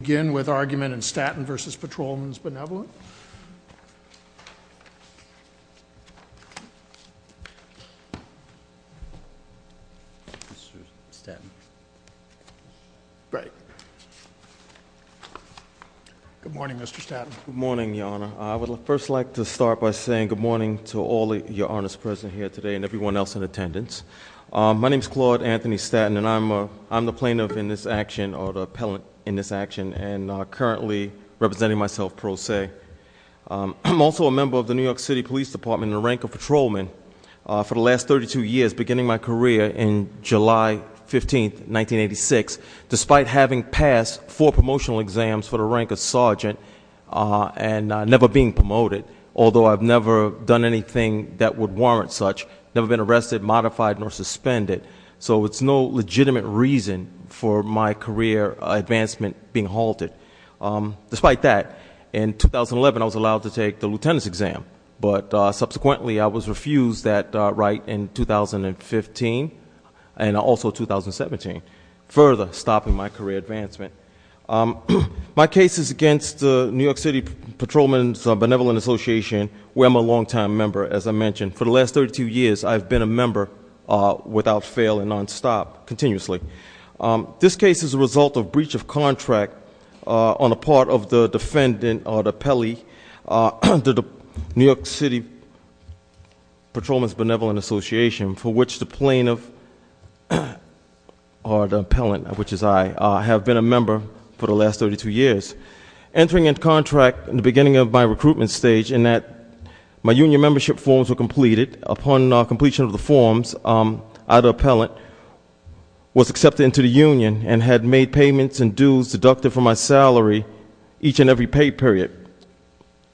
Let's begin with argument in Staten v. Patrolmen's Benevolent. Good morning, Mr. Staten. Good morning, Your Honor. I would first like to start by saying good morning to all of Your Honor's present here today and everyone else in attendance. My name's Claude Anthony Staten and I'm the plaintiff in this action or the appellant in this action and currently representing myself pro se. I'm also a member of the New York City Police Department in the rank of patrolman for the last 32 years beginning my career in July 15th, 1986. Despite having passed four promotional exams for the rank of sergeant and never being promoted, although I've never done anything that would warrant such. Never been arrested, modified, nor suspended. So it's no legitimate reason for my career advancement being halted. Despite that, in 2011 I was allowed to take the lieutenant's exam. But subsequently I was refused that right in 2015 and also 2017, further stopping my career advancement. My case is against the New York City Patrolman's Benevolent Association, where I'm a long time member, as I mentioned. For the last 32 years, I've been a member without fail and non-stop, continuously. This case is a result of breach of contract on the part of the defendant or the appellee under the New York City Patrolman's Benevolent Association for which the plaintiff or the appellant, which is I, have been a member for the last 32 years. Entering in contract in the beginning of my recruitment stage in that my union membership forms were completed. Upon completion of the forms, I, the appellant, was accepted into the union and had made payments and dues deducted from my salary each and every pay period.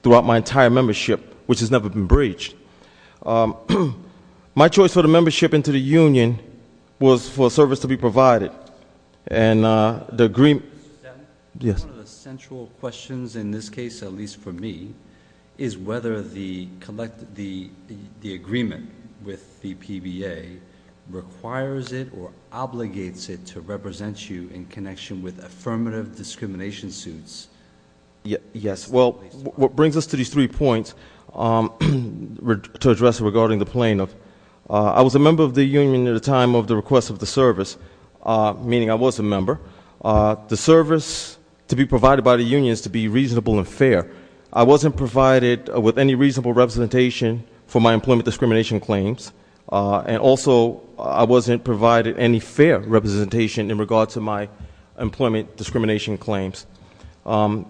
Throughout my entire membership, which has never been breached. My choice for the membership into the union was for service to be provided. And the agreement- Yes. One of the central questions in this case, at least for me, is whether the agreement with the PBA requires it or obligates it to represent you in connection with affirmative discrimination suits. Yes, well, what brings us to these three points to address regarding the plaintiff. I was a member of the union at a time of the request of the service, meaning I was a member. The service to be provided by the union is to be reasonable and fair. I wasn't provided with any reasonable representation for my employment discrimination claims. And also, I wasn't provided any fair representation in regards to my employment discrimination claims.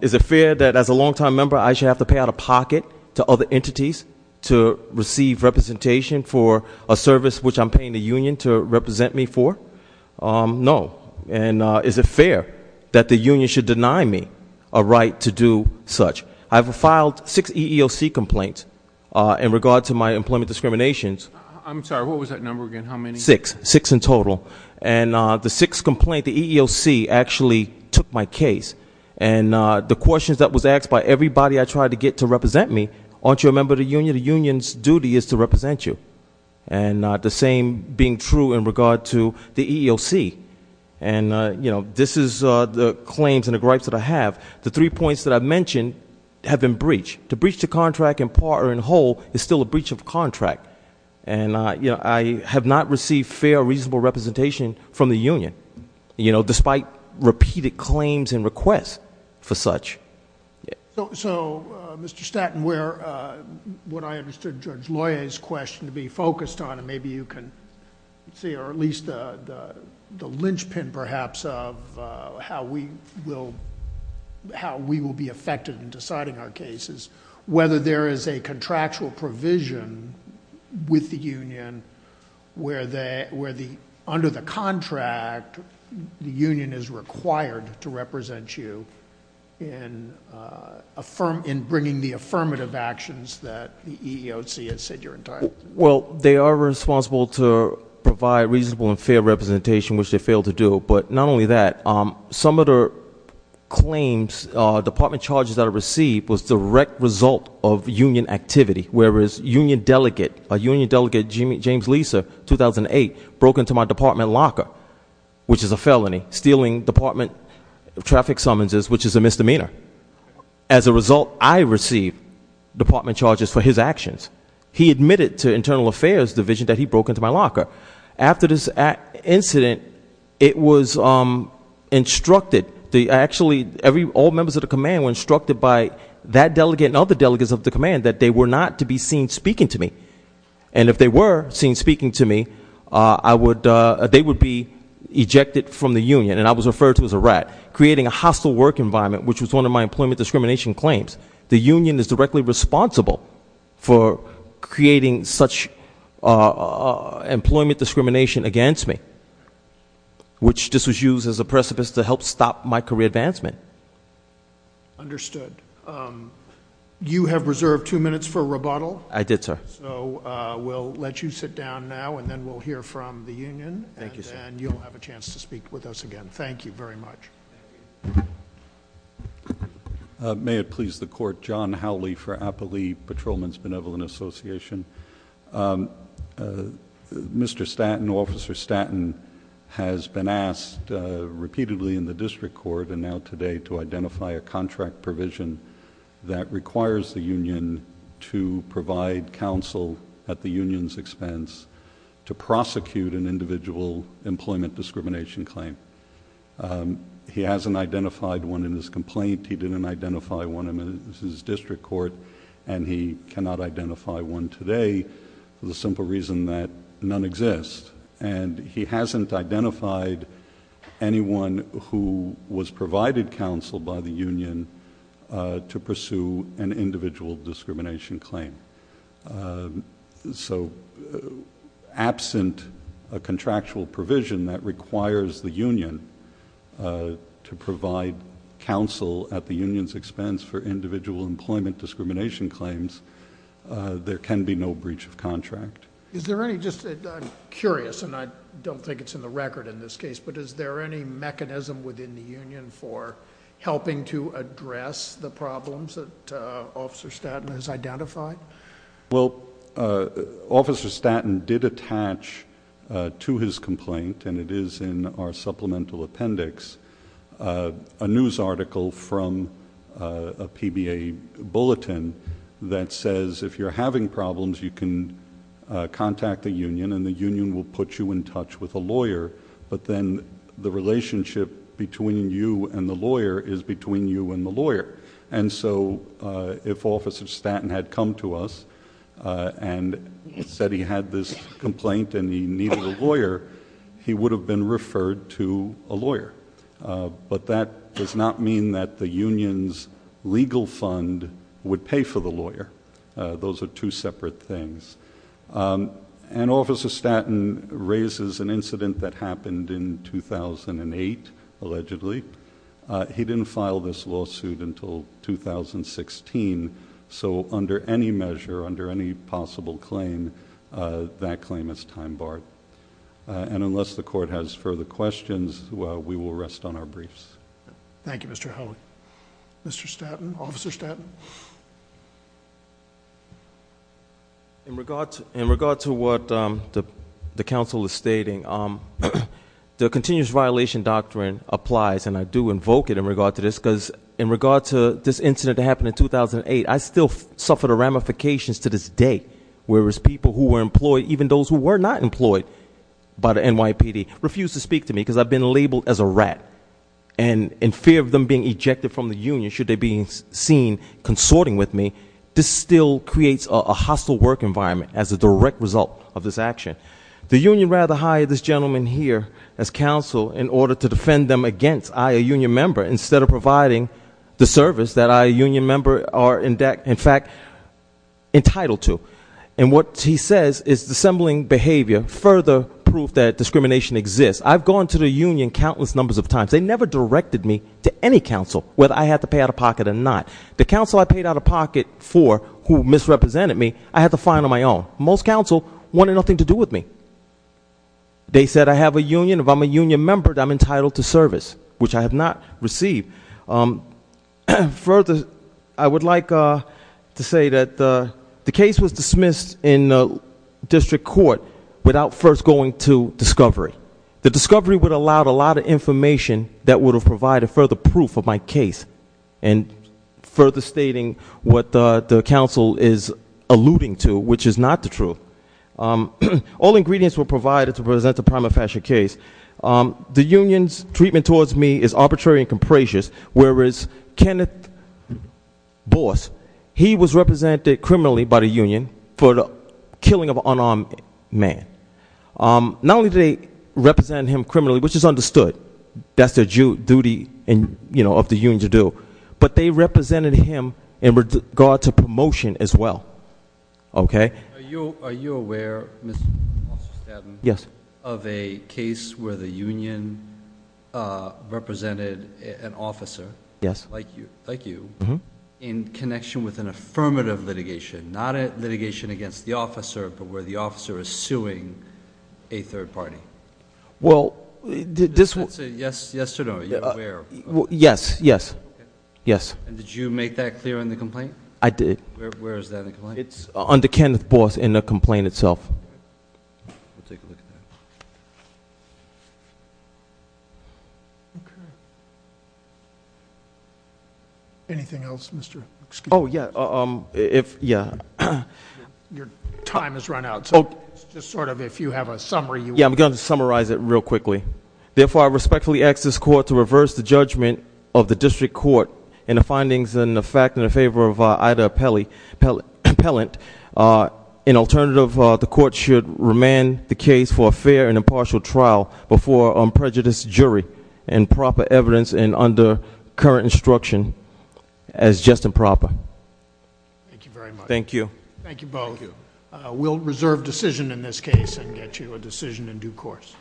Is it fair that as a long time member, I should have to pay out of pocket to other entities to receive representation for a service which I'm paying the union to represent me for? No. And is it fair that the union should deny me a right to do such? I've filed six EEOC complaints in regards to my employment discriminations. I'm sorry, what was that number again, how many? Six, six in total. And the sixth complaint, the EEOC, actually took my case. And the questions that was asked by everybody I tried to get to represent me, aren't you a member of the union? The union's duty is to represent you. And the same being true in regard to the EEOC. And this is the claims and the gripes that I have. The three points that I've mentioned have been breached. To breach the contract in part or in whole is still a breach of contract. And I have not received fair, reasonable representation from the union, despite repeated claims and requests for such. So, Mr. Staten, what I understood Judge Loya's question to be focused on, and maybe you can see, or at least the linchpin, perhaps, of how we will be affected in deciding our cases. Whether there is a contractual provision with the union, where under the contract, the union is required to represent you in bringing the affirmative actions that the EEOC has said you're entitled to. Well, they are responsible to provide reasonable and fair representation, which they failed to do. But not only that, some of the claims, department charges that I received was direct result of union activity. Whereas union delegate, a union delegate, James Lisa, 2008, broke into my department locker, which is a felony, stealing department traffic summonses, which is a misdemeanor. As a result, I received department charges for his actions. He admitted to internal affairs division that he broke into my locker. After this incident, it was instructed, actually all members of the command were instructed by that delegate and other delegates of the command that they were not to be seen speaking to me. And if they were seen speaking to me, they would be ejected from the union. And I was referred to as a rat, creating a hostile work environment, which was one of my employment discrimination claims. The union is directly responsible for creating such employment discrimination against me. Which this was used as a precipice to help stop my career advancement. Understood. You have reserved two minutes for rebuttal. I did, sir. So we'll let you sit down now, and then we'll hear from the union, and then you'll have a chance to speak with us again. Thank you very much. May it please the court, John Howley for Appali Patrolman's Benevolent Association. Mr. Stanton, Officer Stanton has been asked repeatedly in the district court and now today to identify a contract provision that requires the union to provide counsel at the union's expense to prosecute an individual employment discrimination claim. He hasn't identified one in his complaint. He didn't identify one in his district court, and he cannot identify one today for the simple reason that none exist. And he hasn't identified anyone who was provided counsel by the union to pursue an individual discrimination claim. So absent a contractual provision that requires the union to provide counsel at the union's expense for individual employment discrimination claims, there can be no breach of contract. Is there any, just, I'm curious, and I don't think it's in the record in this case, but is there any mechanism within the union for helping to address the problems that Officer Stanton has identified? Well, Officer Stanton did attach to his complaint, and it is in our supplemental appendix, a news article from a PBA bulletin that says if you're having problems, you can contact the union, and the union will put you in touch with a lawyer. But then the relationship between you and the lawyer is between you and the lawyer. And so, if Officer Stanton had come to us and said he had this complaint and he needed a lawyer, he would have been referred to a lawyer. But that does not mean that the union's legal fund would pay for the lawyer. Those are two separate things. And Officer Stanton raises an incident that happened in 2008, allegedly. He didn't file this lawsuit until 2016. So under any measure, under any possible claim, that claim is time barred. And unless the court has further questions, we will rest on our briefs. Thank you, Mr. Howell. Mr. Stanton, Officer Stanton. In regard to what the council is stating, the continuous violation doctrine applies, and I do invoke it in regard to this. because in regard to this incident that happened in 2008, I still suffer the ramifications to this day. Whereas people who were employed, even those who were not employed by the NYPD, refuse to speak to me because I've been labeled as a rat. And in fear of them being ejected from the union, should they be seen consorting with me, this still creates a hostile work environment as a direct result of this action. The union rather hire this gentleman here as counsel in order to defend them against I, a union member, instead of providing the service that I, a union member, are in fact entitled to. And what he says is dissembling behavior further proof that discrimination exists. I've gone to the union countless numbers of times. They never directed me to any council, whether I had to pay out of pocket or not. The council I paid out of pocket for, who misrepresented me, I had to find on my own. Most council wanted nothing to do with me. They said I have a union. If I'm a union member, I'm entitled to service, which I have not received. Further, I would like to say that the case was dismissed in district court without first going to discovery. The discovery would have allowed a lot of information that would have provided further proof of my case. And further stating what the council is alluding to, which is not the truth. All ingredients were provided to present the prima facie case. The union's treatment towards me is arbitrary and capricious, whereas Kenneth Boss, he was represented criminally by the union for the killing of an unarmed man. Not only did they represent him criminally, which is understood, that's their duty of the union to do. But they represented him in regard to promotion as well, okay? Are you aware, Mr. Stanton? Yes. Of a case where the union represented an officer. Yes. Like you, in connection with an affirmative litigation. Not a litigation against the officer, but where the officer is suing a third party. Well, this- Yes or no, you're aware? Yes, yes. Yes. And did you make that clear in the complaint? I did. Where is that in the complaint? It's under Kenneth Boss in the complaint itself. We'll take a look at that. Okay. Anything else, Mr., excuse me. Yeah, if, yeah. Your time has run out, so just sort of if you have a summary. Yeah, I'm going to summarize it real quickly. Therefore, I respectfully ask this court to reverse the judgment of the district court in the findings and the fact in the favor of Ida Pellant. In alternative, the court should remand the case for a fair and impartial trial before a prejudiced jury and proper evidence and under current instruction as just and proper. Thank you very much. Thank you. Thank you both. We'll reserve decision in this case and get you a decision in due course.